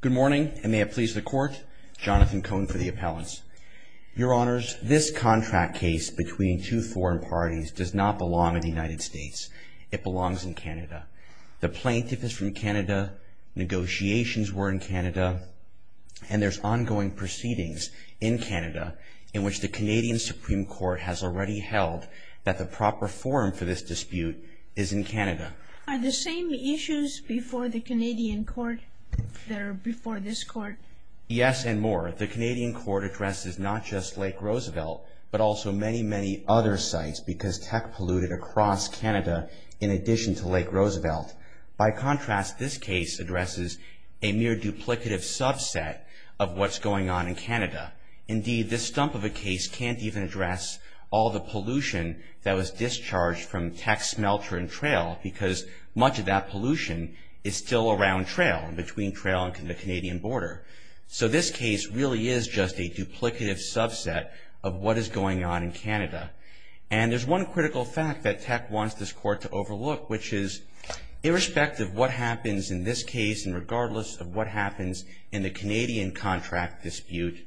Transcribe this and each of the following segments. Good morning, and may it please the Court, Jonathan Cohn for the Appellants. Your Honours, this contract case between two foreign parties does not belong in the United States. It belongs in Canada. The plaintiff is from Canada, negotiations were in Canada, and there's ongoing proceedings in Canada in which the Canadian Supreme Court has already held that the proper forum for this dispute is in Canada. Are the same issues before the Canadian Court that are before this Court? Yes, and more. The Canadian Court addresses not just Lake Roosevelt, but also many, many other sites because tech polluted across Canada in addition to Lake Roosevelt. By contrast, this case addresses a mere duplicative subset of what's going on in Canada. Indeed, this stump of a case can't even address all the pollution that was discharged from tech smelter and trail because much of that pollution is still around trail and between trail and the Canadian border. So this case really is just a duplicative subset of what is going on in Canada. And there's one critical fact that tech wants this Court to overlook, which is, irrespective of what happens in this case and regardless of what happens in the Canadian contract dispute,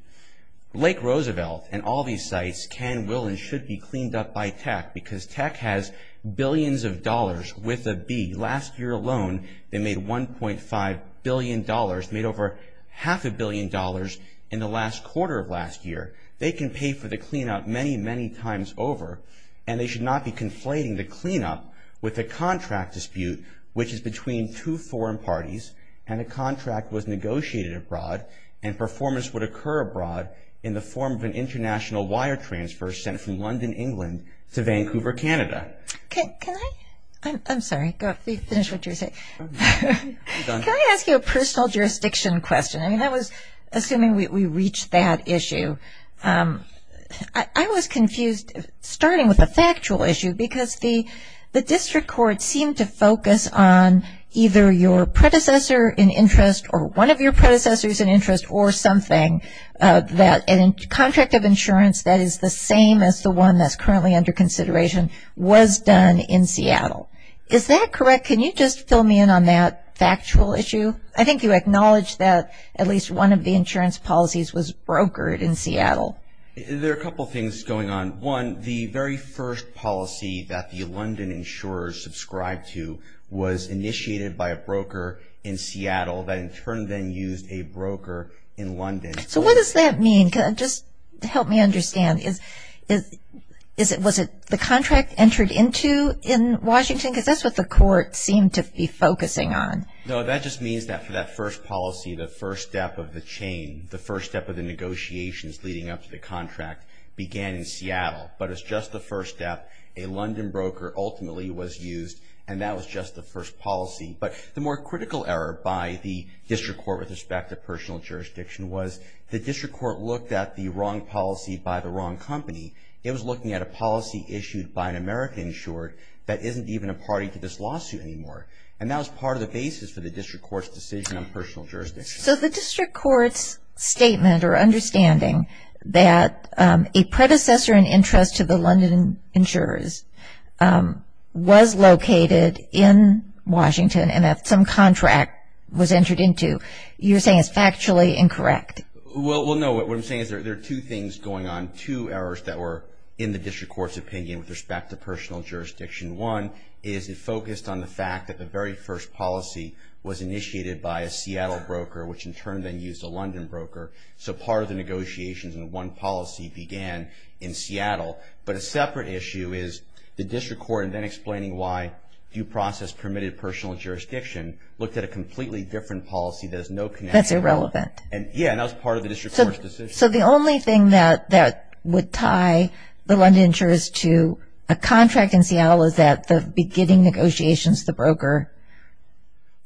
Lake Roosevelt and all these sites can, will, and should be cleaned up by tech because tech has billions of dollars with a B. Last year alone, they made $1.5 billion, made over half a billion dollars in the last quarter of last year. They can pay for the cleanup many, many times over, and they should not be conflating the cleanup with the contract dispute, which is between two foreign parties and a contract was negotiated abroad and performance would occur abroad in the form of an international wire transfer sent from London, England to Vancouver, Canada. Can I, I'm sorry, finish what you were saying. Can I ask you a personal jurisdiction question? I mean, I was assuming we reached that issue. I was confused, starting with a factual issue, because the District Court seemed to focus on either your predecessor in interest or one of your predecessors in interest or something, that a contract of insurance that is the same as the one that's currently under consideration was done in Seattle. Is that correct? Can you just fill me in on that factual issue? I think you acknowledged that at least one of the insurance policies was brokered in Seattle. There are a couple things going on. One, the very first policy that the London insurers subscribed to was initiated by a broker in Seattle that in turn then used a broker in London. So what does that mean? Just help me understand. Was it the contract entered into in Washington? Because that's what the court seemed to be focusing on. No, that just means that for that first policy, the first step of the chain, the first step of the negotiations leading up to the contract began in Seattle. But it's just the first step. A London broker ultimately was used, and that was just the first policy. But the more critical error by the District Court with respect to personal jurisdiction was the District Court looked at the wrong policy by the wrong company. It was looking at a policy issued by an American insured that isn't even a party to this lawsuit anymore. And that was part of the basis for the District Court's decision on personal jurisdiction. So the District Court's statement or understanding that a predecessor in interest to the London insurers was located in Washington and that some contract was entered into, you're saying is factually incorrect. Well, no. What I'm saying is there are two things going on, two errors that were in the District Court's opinion with respect to personal jurisdiction. One is it focused on the fact that the very first policy was initiated by a Seattle broker, which in turn then used a London broker. So part of the negotiations in one policy began in Seattle. But a separate issue is the District Court, and then explaining why due process permitted personal jurisdiction, looked at a completely different policy that has no connection. That's irrelevant. Yeah, and that was part of the District Court's decision. So the only thing that would tie the London insurers to a contract in Seattle is that the beginning negotiations, the broker.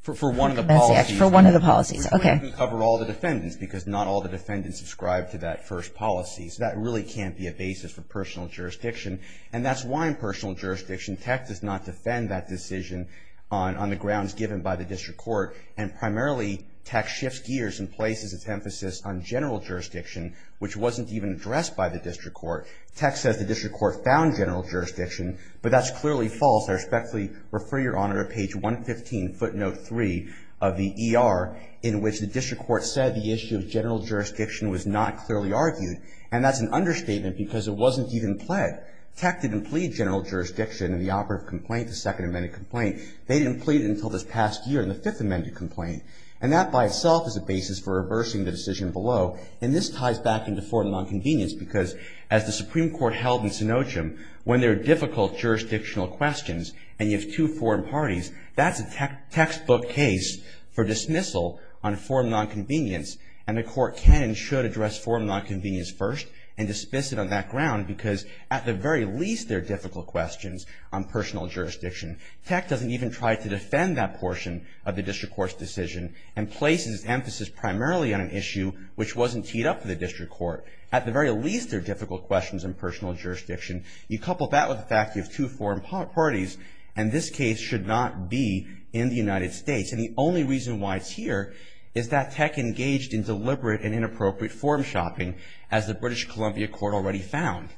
For one of the policies. For one of the policies. Okay. We don't have to cover all the defendants because not all the defendants subscribe to that first policy. So that really can't be a basis for personal jurisdiction. And that's why in personal jurisdiction, TEC does not defend that decision on the grounds given by the District Court. And primarily, TEC shifts gears and places its emphasis on general jurisdiction, which wasn't even addressed by the District Court. TEC says the District Court found general jurisdiction, but that's clearly false. I respectfully refer your Honor to page 115, footnote 3 of the ER, in which the District Court said the issue of general jurisdiction was not clearly argued. And that's an understatement because it wasn't even pled. TEC didn't plead general jurisdiction in the operative complaint, the Second Amendment complaint. They didn't plead it until this past year in the Fifth Amendment complaint. And that by itself is a basis for reversing the decision below. And this ties back into foreign nonconvenience because as the Supreme Court held in Sinochem, when there are difficult jurisdictional questions and you have two foreign parties, that's a textbook case for dismissal on foreign nonconvenience. And the Court can and should address foreign nonconvenience first and dismiss it on that ground because at the very least, there are difficult questions on personal jurisdiction. TEC doesn't even try to defend that portion of the District Court's decision and places emphasis primarily on an issue which wasn't teed up to the District Court. At the very least, there are difficult questions on personal jurisdiction. You couple that with the fact that you have two foreign parties and this case should not be in the United States. And the only reason why it's here is that TEC engaged in deliberate and inappropriate form shopping, as the British Columbia Court already found.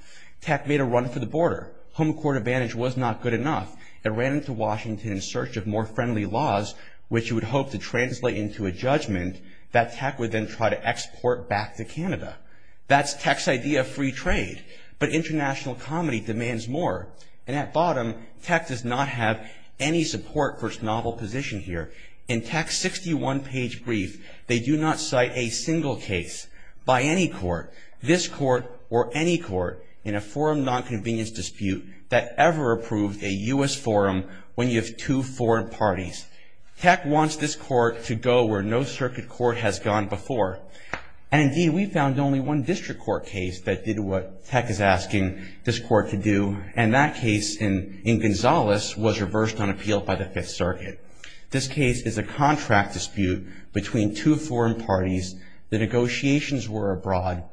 TEC made a run for the border. Home court advantage was not good enough. It ran into Washington in search of more friendly laws, which it would hope to translate into a judgment that TEC would then try to export back to Canada. That's TEC's idea of free trade, but international comedy demands more. And at bottom, TEC does not have any support for its novel position here. In TEC's 61-page brief, they do not cite a single case by any court, this court or any court in a foreign nonconvenience dispute that ever approved a U.S. forum when you have two foreign parties. TEC wants this court to go where no circuit court has gone before. And, indeed, we found only one District Court case that did what TEC is asking this court to do, and that case in Gonzales was reversed on appeal by the Fifth Circuit. This case is a contract dispute between two foreign parties. The negotiations were abroad.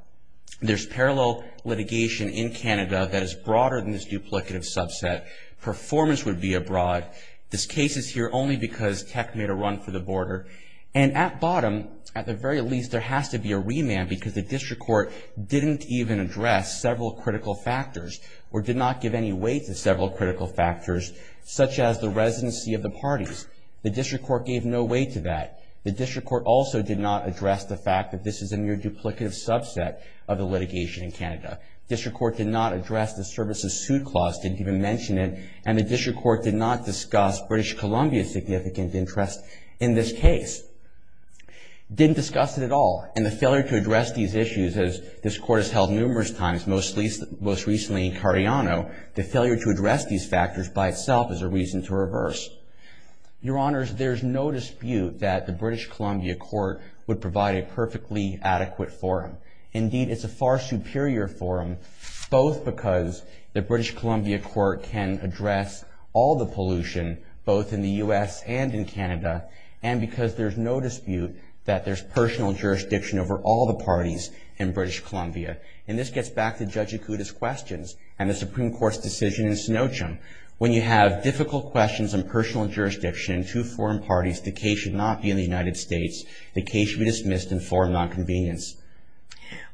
There's parallel litigation in Canada that is broader than this duplicative subset. Performance would be abroad. This case is here only because TEC made a run for the border. And at bottom, at the very least, there has to be a remand because the District Court didn't even address several critical factors or did not give any weight to several critical factors, such as the residency of the parties. The District Court gave no weight to that. The District Court also did not address the fact that this is a near duplicative subset of the litigation in Canada. District Court did not address the services suit clause, didn't even mention it. And the District Court did not discuss British Columbia's significant interest in this case. Didn't discuss it at all. And the failure to address these issues, as this court has held numerous times, most recently in Cardiano, the failure to address these factors by itself is a reason to reverse. Your Honors, there's no dispute that the British Columbia Court would provide a perfectly adequate forum. Indeed, it's a far superior forum, both because the British Columbia Court can address all the pollution, both in the U.S. and in Canada, and because there's no dispute that there's personal jurisdiction over all the parties in British Columbia. And this gets back to Judge Ikuda's questions and the Supreme Court's decision in Snowchum. When you have difficult questions on personal jurisdiction in two foreign parties, the case should not be in the United States. The case should be dismissed and form nonconvenience.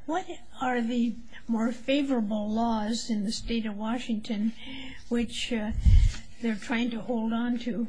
What are the more favorable laws in the State of Washington which they're trying to hold on to?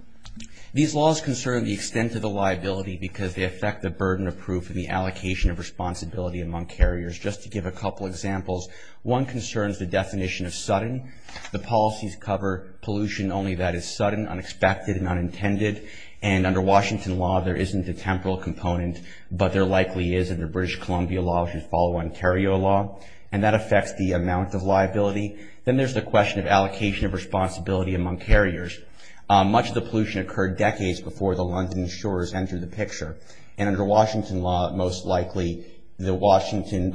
These laws concern the extent of the liability because they affect the burden of proof and the allocation of responsibility among carriers. Just to give a couple examples, one concerns the definition of sudden. The policies cover pollution only that is sudden, unexpected, and unintended. And under Washington law, there isn't a temporal component, but there likely is under British Columbia law, which would follow Ontario law. And that affects the amount of liability. Then there's the question of allocation of responsibility among carriers. Much of the pollution occurred decades before the London insurers entered the picture. And under Washington law, most likely, under Washington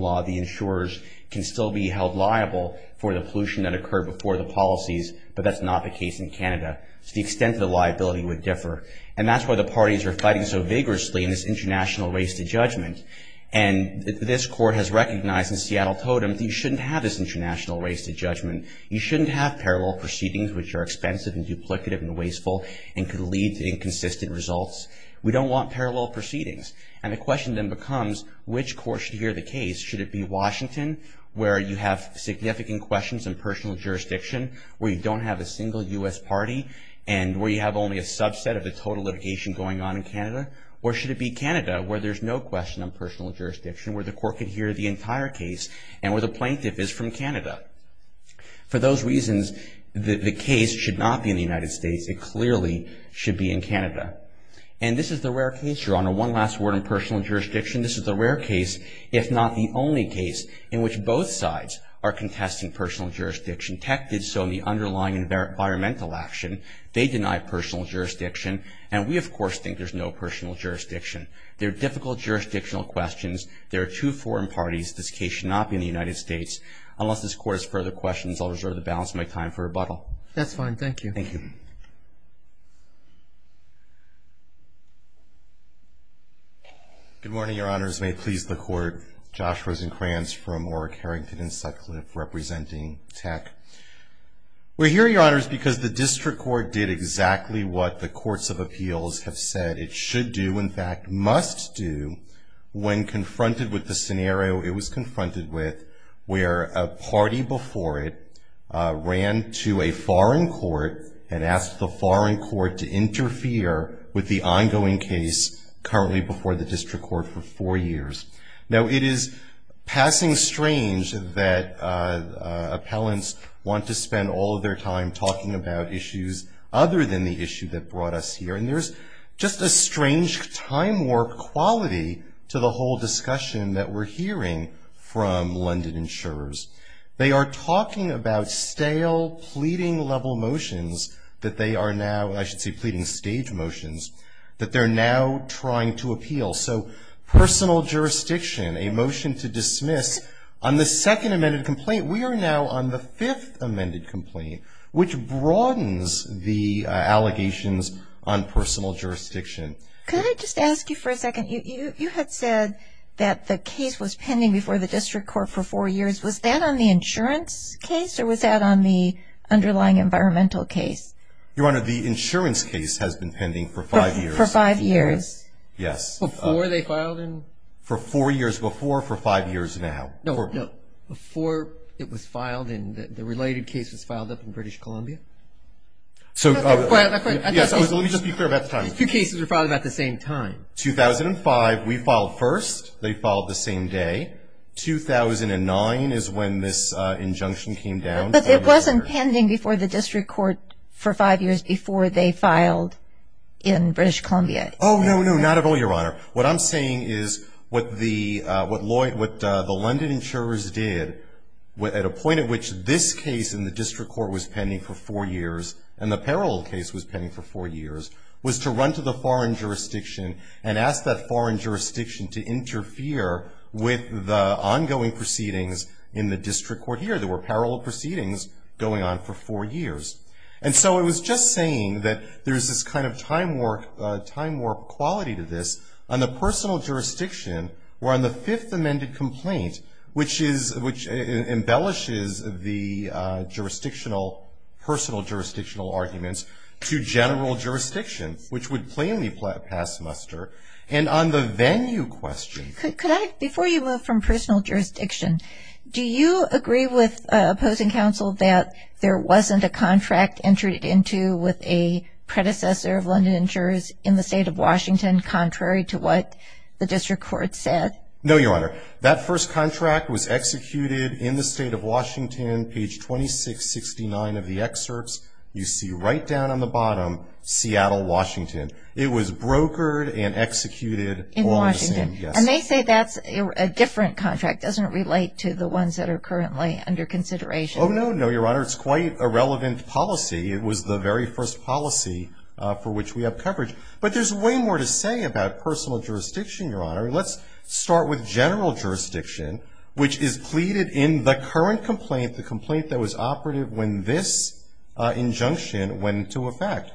law, the insurers can still be held liable for the pollution that occurred before the policies, but that's not the case in Canada. So the extent of the liability would differ. And that's why the parties are fighting so vigorously in this international race to judgment. And this court has recognized in Seattle Totem that you shouldn't have this international race to judgment. You shouldn't have parallel proceedings, which are expensive and duplicative and wasteful and could lead to inconsistent results. We don't want parallel proceedings. And the question then becomes, which court should hear the case? Should it be Washington, where you have significant questions in personal jurisdiction, where you don't have a single U.S. party, and where you have only a subset of the total litigation going on in Canada? Or should it be Canada, where there's no question on personal jurisdiction, where the court could hear the entire case, and where the plaintiff is from Canada? For those reasons, the case should not be in the United States. It clearly should be in Canada. And this is the rare case, Your Honor, one last word on personal jurisdiction. This is the rare case, if not the only case, in which both sides are contesting personal jurisdiction. Tech did so in the underlying environmental action. They denied personal jurisdiction. And we, of course, think there's no personal jurisdiction. There are difficult jurisdictional questions. There are two foreign parties. This case should not be in the United States. Unless this court has further questions, I'll reserve the balance of my time for rebuttal. That's fine. Thank you. Thank you. Good morning, Your Honors. May it please the Court. Josh Rosenkranz from Warwick, Harrington, and Sutcliffe, representing Tech. We're here, Your Honors, because the district court did exactly what the courts of appeals have said it should do, in fact must do, when confronted with the scenario it was confronted with, where a party before it ran to a foreign court and asked the foreign court to interfere with the ongoing case currently before the district court for four years. Now, it is passing strange that appellants want to spend all of their time talking about issues other than the issue that brought us here. And there's just a strange time warp quality to the whole discussion that we're hearing from London insurers. They are talking about stale pleading level motions that they are now, I should say pleading stage motions, that they're now trying to appeal. So personal jurisdiction, a motion to dismiss on the second amended complaint. We are now on the fifth amended complaint, which broadens the allegations on personal jurisdiction. Could I just ask you for a second? You had said that the case was pending before the district court for four years. Was that on the insurance case, or was that on the underlying environmental case? Your Honor, the insurance case has been pending for five years. For five years? Yes. Before they filed in? For four years before, for five years now. No, no. Before it was filed in, the related case was filed up in British Columbia. Let me just be clear about the time. Two cases were filed at the same time. 2005, we filed first. They filed the same day. 2009 is when this injunction came down. But it wasn't pending before the district court for five years before they filed in British Columbia. Oh, no, no, not at all, Your Honor. What I'm saying is what the London insurers did, at a point at which this case in the district court was pending for four years, and the parallel case was pending for four years, was to run to the foreign jurisdiction and ask that foreign jurisdiction to interfere with the ongoing proceedings in the district court here. There were parallel proceedings going on for four years. And so it was just saying that there's this kind of time warp quality to this. On the personal jurisdiction, we're on the fifth amended complaint, which embellishes the jurisdictional, personal jurisdictional arguments to general jurisdiction, which would plainly pass muster. And on the venue question. Before you move from personal jurisdiction, do you agree with opposing counsel that there wasn't a contract entered into with a predecessor of London insurers in the state of Washington contrary to what the district court said? No, Your Honor. That first contract was executed in the state of Washington, page 2669 of the excerpts. You see right down on the bottom, Seattle, Washington. It was brokered and executed. In Washington. Yes. And they say that's a different contract. Doesn't it relate to the ones that are currently under consideration? Oh, no, no, Your Honor. It's quite a relevant policy. It was the very first policy for which we have coverage. But there's way more to say about personal jurisdiction, Your Honor. Let's start with general jurisdiction, which is pleaded in the current complaint, the complaint that was operative when this injunction went into effect.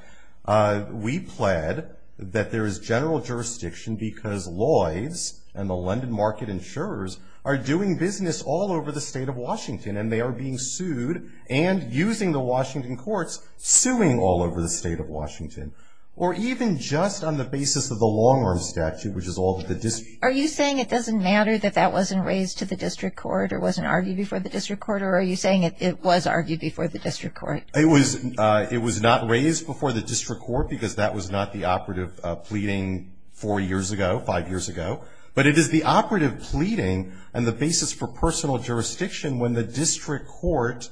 We pled that there is general jurisdiction because Lloyds and the London market insurers are doing business all over the state of Washington, and they are being sued and using the Washington courts, suing all over the state of Washington. Or even just on the basis of the long-run statute, which is all that the district. Are you saying it doesn't matter that that wasn't raised to the district court or wasn't argued before the district court, or are you saying it was argued before the district court? It was not raised before the district court because that was not the operative pleading four years ago, five years ago, but it is the operative pleading and the basis for personal jurisdiction when the district court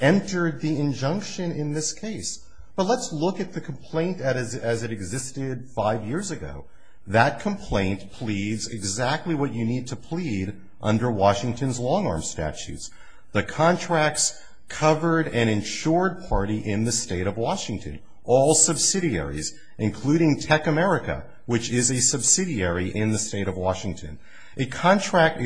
entered the injunction in this case. But let's look at the complaint as it existed five years ago. That complaint pleads exactly what you need to plead under Washington's long-arm statutes. The contracts covered an insured party in the state of Washington, all subsidiaries, including Tech America, which is a subsidiary in the state of Washington. The contract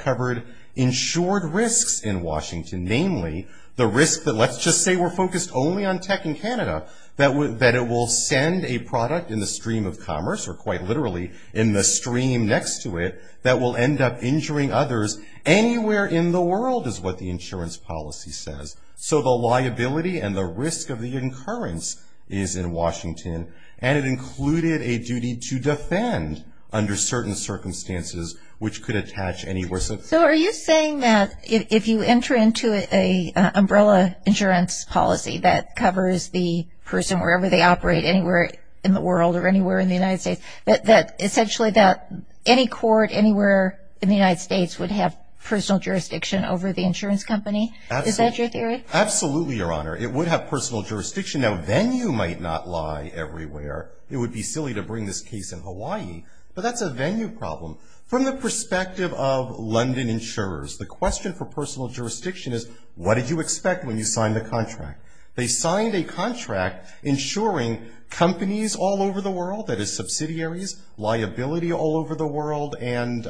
covered insured risks in Washington, namely the risk that let's just say we're focused only on tech in Canada, that it will send a product in the stream of commerce, or quite literally in the stream next to it, that will end up injuring others anywhere in the world is what the insurance policy says. So the liability and the risk of the incurrence is in Washington, and it included a duty to defend under certain circumstances which could attach anywhere. So are you saying that if you enter into an umbrella insurance policy that covers the person wherever they operate, anywhere in the world or anywhere in the United States, that essentially that any court anywhere in the United States would have personal jurisdiction over the insurance company? Is that your theory? Absolutely, Your Honor. It would have personal jurisdiction. Now, venue might not lie everywhere. It would be silly to bring this case in Hawaii, but that's a venue problem. From the perspective of London insurers, the question for personal jurisdiction is, what did you expect when you signed the contract? They signed a contract insuring companies all over the world, that is subsidiaries, liability all over the world, and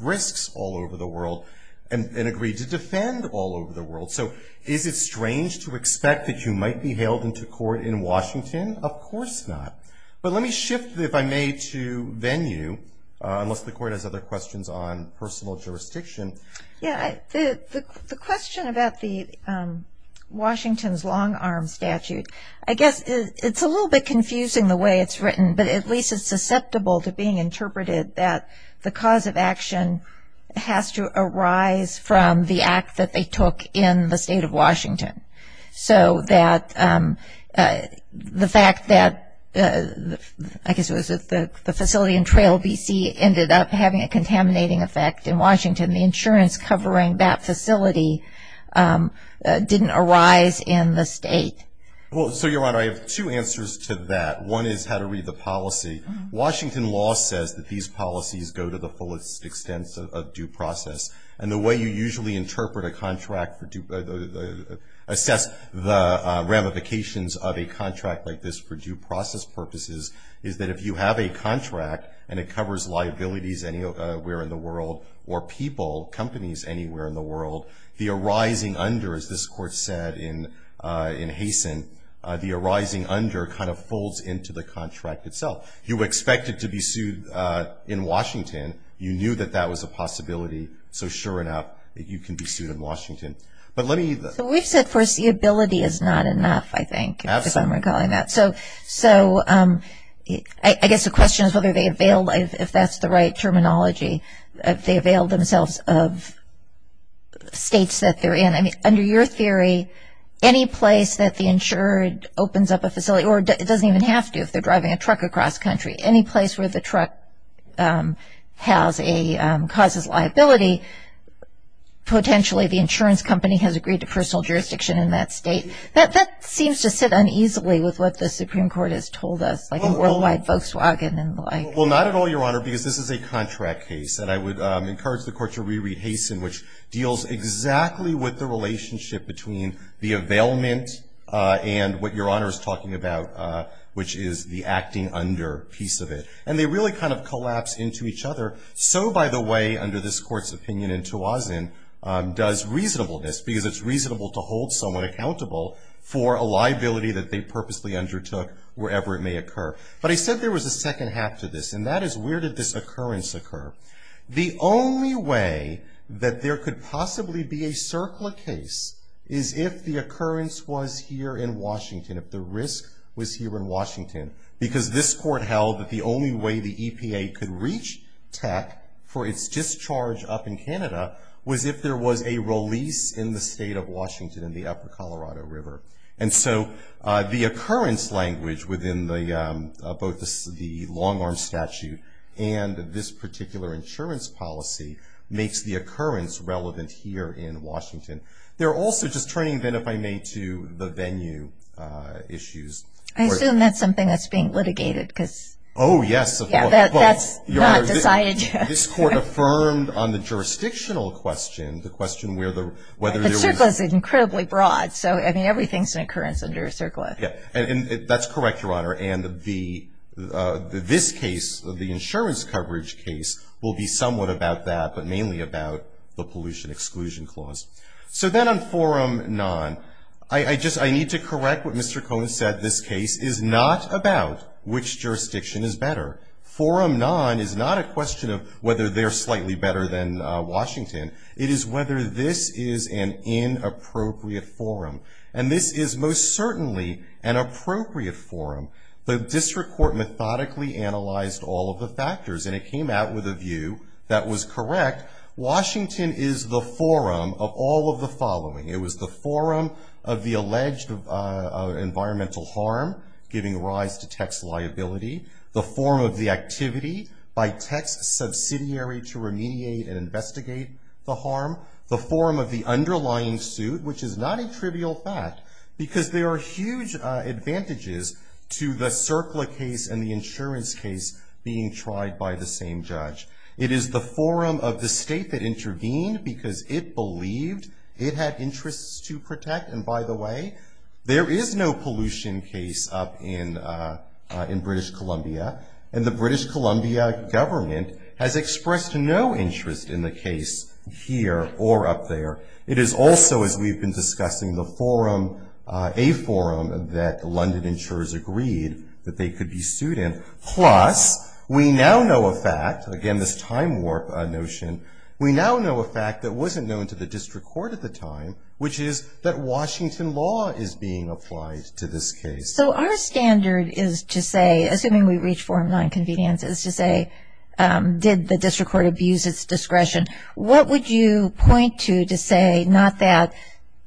risks all over the world, and agreed to defend all over the world. So is it strange to expect that you might be hailed into court in Washington? Of course not. But let me shift, if I may, to venue, unless the Court has other questions on personal jurisdiction. Yeah. The question about Washington's long-arm statute, I guess it's a little bit confusing the way it's written, but at least it's susceptible to being interpreted that the cause of action has to arise from the act that they took in the State of Washington. So that the fact that, I guess it was the facility in Trail, B.C., ended up having a contaminating effect in Washington, the insurance covering that facility didn't arise in the State. Well, so, Your Honor, I have two answers to that. One is how to read the policy. Washington law says that these policies go to the fullest extent of due process, and the way you usually interpret a contract for due, assess the ramifications of a contract like this for due process purposes, is that if you have a contract and it covers liabilities anywhere in the world, or people, companies anywhere in the world, the arising under, as this Court said in Haysen, the arising under kind of folds into the contract itself. You expect it to be sued in Washington. You knew that that was a possibility. So sure enough, you can be sued in Washington. But let me. So we've said foreseeability is not enough, I think, if I'm recalling that. Absolutely. So I guess the question is whether they avail, if that's the right terminology, if they avail themselves of states that they're in. I mean, under your theory, any place that the insured opens up a facility, or it doesn't even have to if they're driving a truck across country, any place where the truck has a, causes liability, potentially the insurance company has agreed to personal jurisdiction in that state. That seems to sit uneasily with what the Supreme Court has told us, like a worldwide Volkswagen and the like. Well, not at all, Your Honor, because this is a contract case. And I would encourage the Court to re-read Haysen, which deals exactly with the relationship between the availment and what Your Honor is talking about, which is the acting under piece of it. And they really kind of collapse into each other. So, by the way, under this Court's opinion, Ntoazin does reasonableness because it's reasonable to hold someone accountable for a liability that they purposely undertook, wherever it may occur. But I said there was a second half to this, and that is where did this occurrence occur? The only way that there could possibly be a circular case is if the occurrence was here in Washington, if the risk was here in Washington. Because this Court held that the only way the EPA could reach tech for its discharge up in Canada was if there was a release in the state of Washington, in the upper Colorado River. And so, the occurrence language within both the long arm statute and this particular insurance policy makes the occurrence relevant here in Washington. They're also just turning then, if I may, to the venue issues. I assume that's something that's being litigated because. Oh, yes. That's not decided yet. This Court affirmed on the jurisdictional question, the question where the... The circle is incredibly broad. So, I mean, everything's an occurrence under a circle. And that's correct, Your Honor. And this case, the insurance coverage case, will be somewhat about that, but mainly about the pollution exclusion clause. So then on forum non, I need to correct what Mr. Cohen said. This case is not about which jurisdiction is better. Forum non is not a question of whether they're slightly better than Washington. It is whether this is an inappropriate forum. And this is most certainly an appropriate forum. The district court methodically analyzed all of the factors, and it came out with a view that was correct. Washington is the forum of all of the following. It was the forum of the alleged environmental harm, giving rise to tax liability. The forum of the activity by tax subsidiary to remediate and investigate the harm. The forum of the underlying suit, which is not a trivial fact, because there are huge advantages to the CERCLA case and the insurance case being tried by the same judge. It is the forum of the state that intervened because it believed it had interests to protect. And by the way, there is no pollution case up in British Columbia. And the British Columbia government has expressed no interest in the case here or up there. It is also, as we've been discussing, the forum, a forum that London insurers agreed that they could be sued in. Plus, we now know a fact, again this time warp notion, we now know a fact that wasn't known to the district court at the time, which is that Washington law is being applied to this case. So our standard is to say, assuming we reach forum nonconvenience, is to say did the district court abuse its discretion? What would you point to to say not that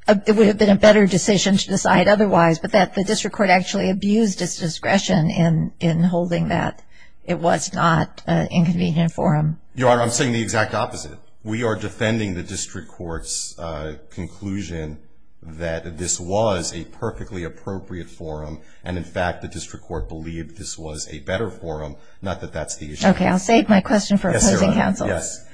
it would have been a better decision to decide otherwise, but that the district court actually abused its discretion in holding that it was not an inconvenient forum? Your Honor, I'm saying the exact opposite. We are defending the district court's conclusion that this was a perfectly appropriate forum. And in fact, the district court believed this was a better forum, not that that's the issue. Okay, I'll save my question for opposing counsel. Yes.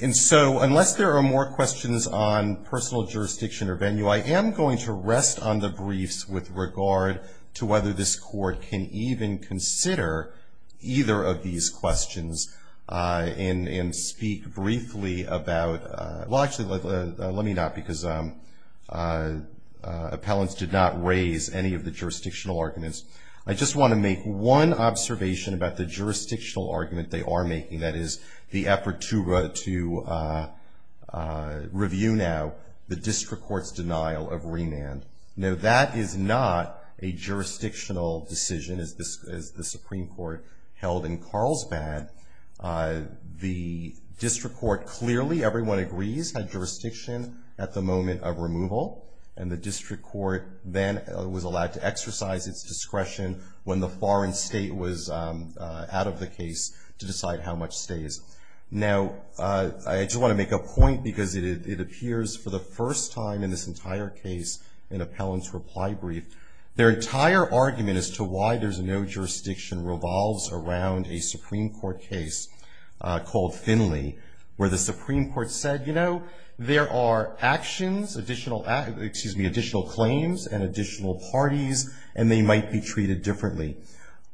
And so unless there are more questions on personal jurisdiction or venue, I am going to rest on the briefs with regard to whether this court can even consider either of these questions and speak briefly about, well, actually, let me not, because appellants did not raise any of the jurisdictional arguments. I just want to make one observation about the jurisdictional argument they are making, that is the effort to review now the district court's denial of remand. Now, that is not a jurisdictional decision, as the Supreme Court held in Carlsbad. The district court clearly, everyone agrees, had jurisdiction at the moment of removal, and the district court then was allowed to exercise its discretion when the foreign state was out of the case to decide how much stays. Now, I just want to make a point, because it appears for the first time in this entire case in appellant's reply brief, their entire argument as to why there's no jurisdiction revolves around a Supreme Court case called Finley, where the Supreme Court said, you know, there are actions, additional, excuse me, additional claims and additional parties, and they might be treated differently.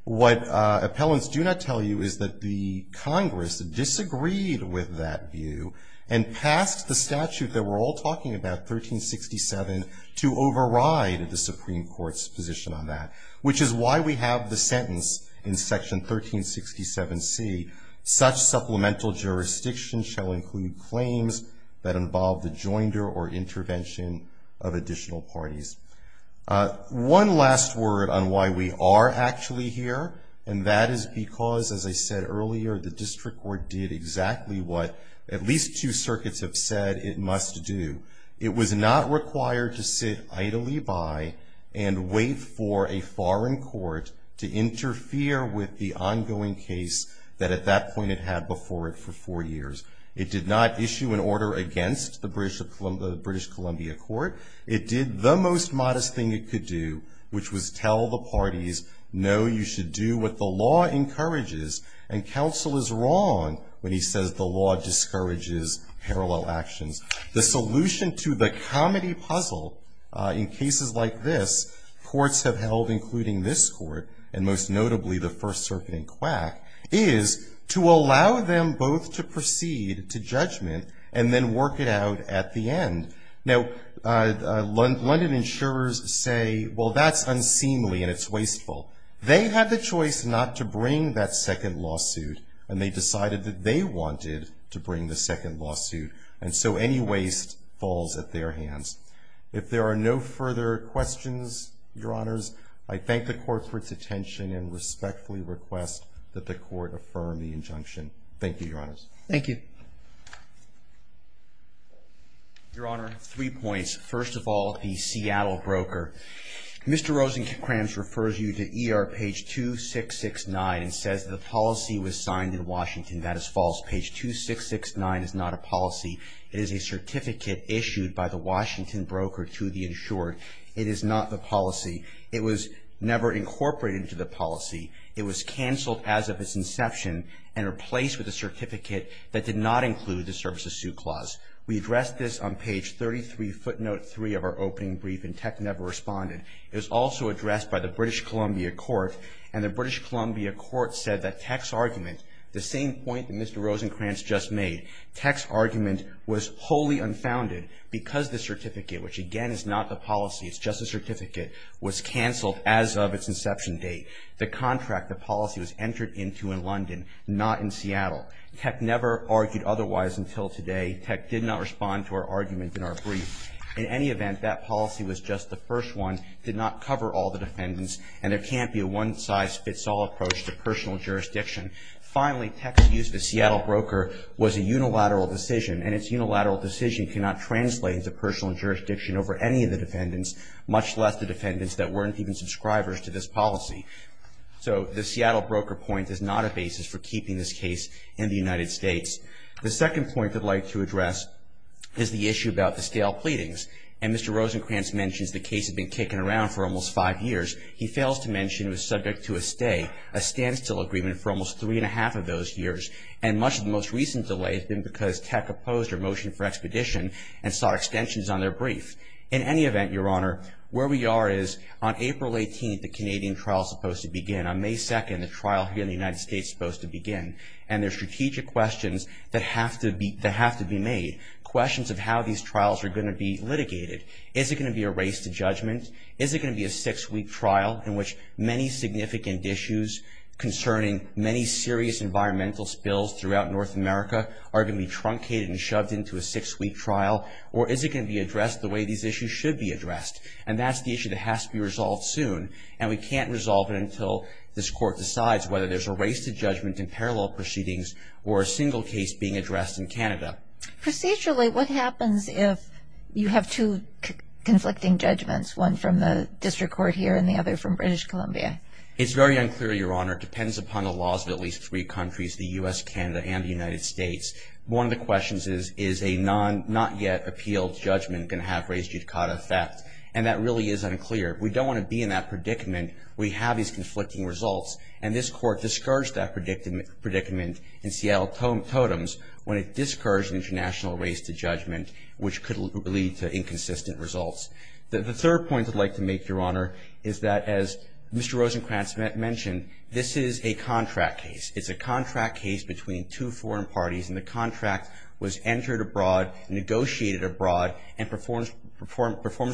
What appellants do not tell you is that the Congress disagreed with that view and passed the statute that we're all talking about, 1367, to override the Supreme Court's position on that, which is why we have the sentence in section 1367C, such supplemental jurisdiction shall include claims that involve the joinder or intervention of additional parties. One last word on why we are actually here, and that is because, as I said earlier, the district court did exactly what at least two circuits have said it must do. It was not required to sit idly by and wait for a foreign court to interfere with the ongoing case that at that point it had before it for four years. It did not issue an order against the British Columbia court. It did the most modest thing it could do, which was tell the parties, no, you should do what the law encourages, and counsel is wrong when he says the law discourages parallel actions. The solution to the comedy puzzle in cases like this courts have held, including this court, and most notably the First Circuit in Quack, is to allow them both to proceed to judgment and then work it out at the end. Now, London insurers say, well, that's unseemly and it's wasteful. They had the choice not to bring that second lawsuit, and they decided that they wanted to bring the second lawsuit, and so any waste falls at their hands. If there are no further questions, Your Honors, I thank the court for its attention and respectfully request that the court affirm the injunction. Thank you, Your Honors. Thank you. Your Honor, three points. First of all, the Seattle broker. Mr. Rosenkranz refers you to ER page 2669 and says the policy was signed in Washington. That is false. Page 2669 is not a policy. It is a certificate issued by the Washington broker to the insured. It is not the policy. It was never incorporated into the policy. It was canceled as of its inception and replaced with a certificate that did not include the service of suit clause. We addressed this on page 33, footnote 3 of our opening brief, and Tech never responded. It was also addressed by the British Columbia court, and the British Columbia court said that Tech's argument, the same point that Mr. Rosenkranz just made, Tech's argument was wholly unfounded because the certificate, which again is not the policy, it's just a certificate, was canceled as of its inception date. The contract, the policy was entered into in London, not in Seattle. Tech never argued otherwise until today. Tech did not respond to our argument in our brief. In any event, that policy was just the first one, did not cover all the defendants, and there can't be a one-size-fits-all approach to personal jurisdiction. Finally, Tech's use of the Seattle broker was a unilateral decision, and its unilateral decision cannot translate into personal jurisdiction over any of the defendants, much less the defendants that weren't even subscribers to this policy. So the Seattle broker point is not a basis for keeping this case in the United States. The second point I'd like to address is the issue about the stale pleadings, and Mr. Rosenkranz mentions the case had been kicking around for almost five years. He fails to mention it was subject to a stay, a standstill agreement for almost three and a half of those years, and much of the most recent delay has been because Tech opposed our motion for expedition and sought extensions on their brief. In any event, Your Honor, where we are is on April 18th, the Canadian trial is supposed to begin. On May 2nd, the trial here in the United States is supposed to begin, and there are strategic questions that have to be made, questions of how these trials are going to be litigated. Is it going to be a race to judgment? Is it going to be a six-week trial in which many significant issues concerning many serious environmental spills throughout North America are going to be truncated and shoved into a six-week trial, or is it going to be addressed the way these issues should be addressed? And that's the issue that has to be resolved soon, and we can't resolve it until this Court decides whether there's a race to judgment in parallel proceedings or a single case being addressed in Canada. Procedurally, what happens if you have two conflicting judgments, one from the District Court here and the other from British Columbia? It's very unclear, Your Honor. It depends upon the laws of at least three countries, the U.S., Canada, and the United States. One of the questions is, is a not-yet-appealed judgment going to have race judicata effect? And that really is unclear. We don't want to be in that predicament where you have these conflicting results, and this Court discouraged that predicament in Seattle Totems when it discouraged an international race to judgment, which could lead to inconsistent results. The third point I'd like to make, Your Honor, is that, as Mr. Rosenkranz mentioned, this is a contract case. It's a contract case between two foreign parties, and the contract was entered abroad, negotiated abroad, and performance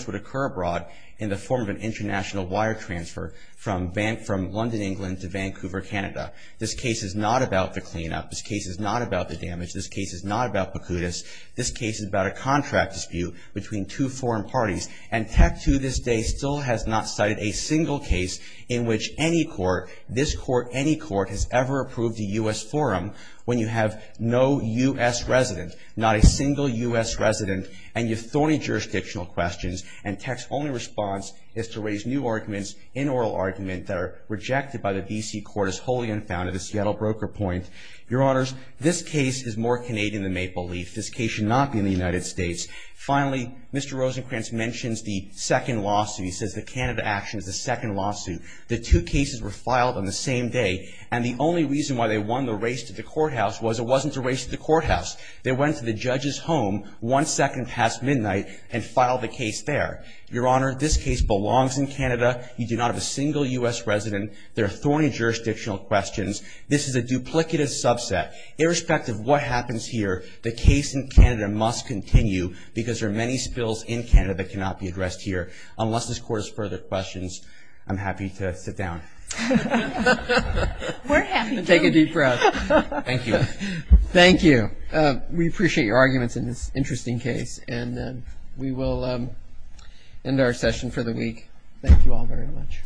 would occur abroad in the form of an international wire transfer from London, England, to Vancouver, Canada. This case is not about the cleanup. This case is not about the damage. This case is not about Pacutus. This case is about a contract dispute between two foreign parties, and Teck, to this day, still has not cited a single case in which any court, this court, any court, has ever approved a U.S. forum when you have no U.S. resident, not a single U.S. resident, and you've thorny jurisdictional questions, and Teck's only response is to raise new arguments, inoral arguments, that are rejected by the D.C. Court as wholly unfounded, as Seattle Broker Point. Your Honors, this case is more Canadian than Maple Leaf. This case should not be in the United States. Finally, Mr. Rosenkranz mentions the second lawsuit. He says the Canada action is the second lawsuit. The two cases were filed on the same day, and the only reason why they won the race to the courthouse was it wasn't a race to the courthouse. They went to the judge's home one second past midnight and filed the case there. Your Honor, this case belongs in Canada. You do not have a single U.S. resident. There are thorny jurisdictional questions. This is a duplicative subset. Irrespective of what happens here, the case in Canada must continue because there are many spills in Canada that cannot be addressed here. Unless this Court has further questions, I'm happy to sit down. We're happy to. Take a deep breath. Thank you. Thank you. We appreciate your arguments in this interesting case, and we will end our session for the week. Thank you all very much. All rise.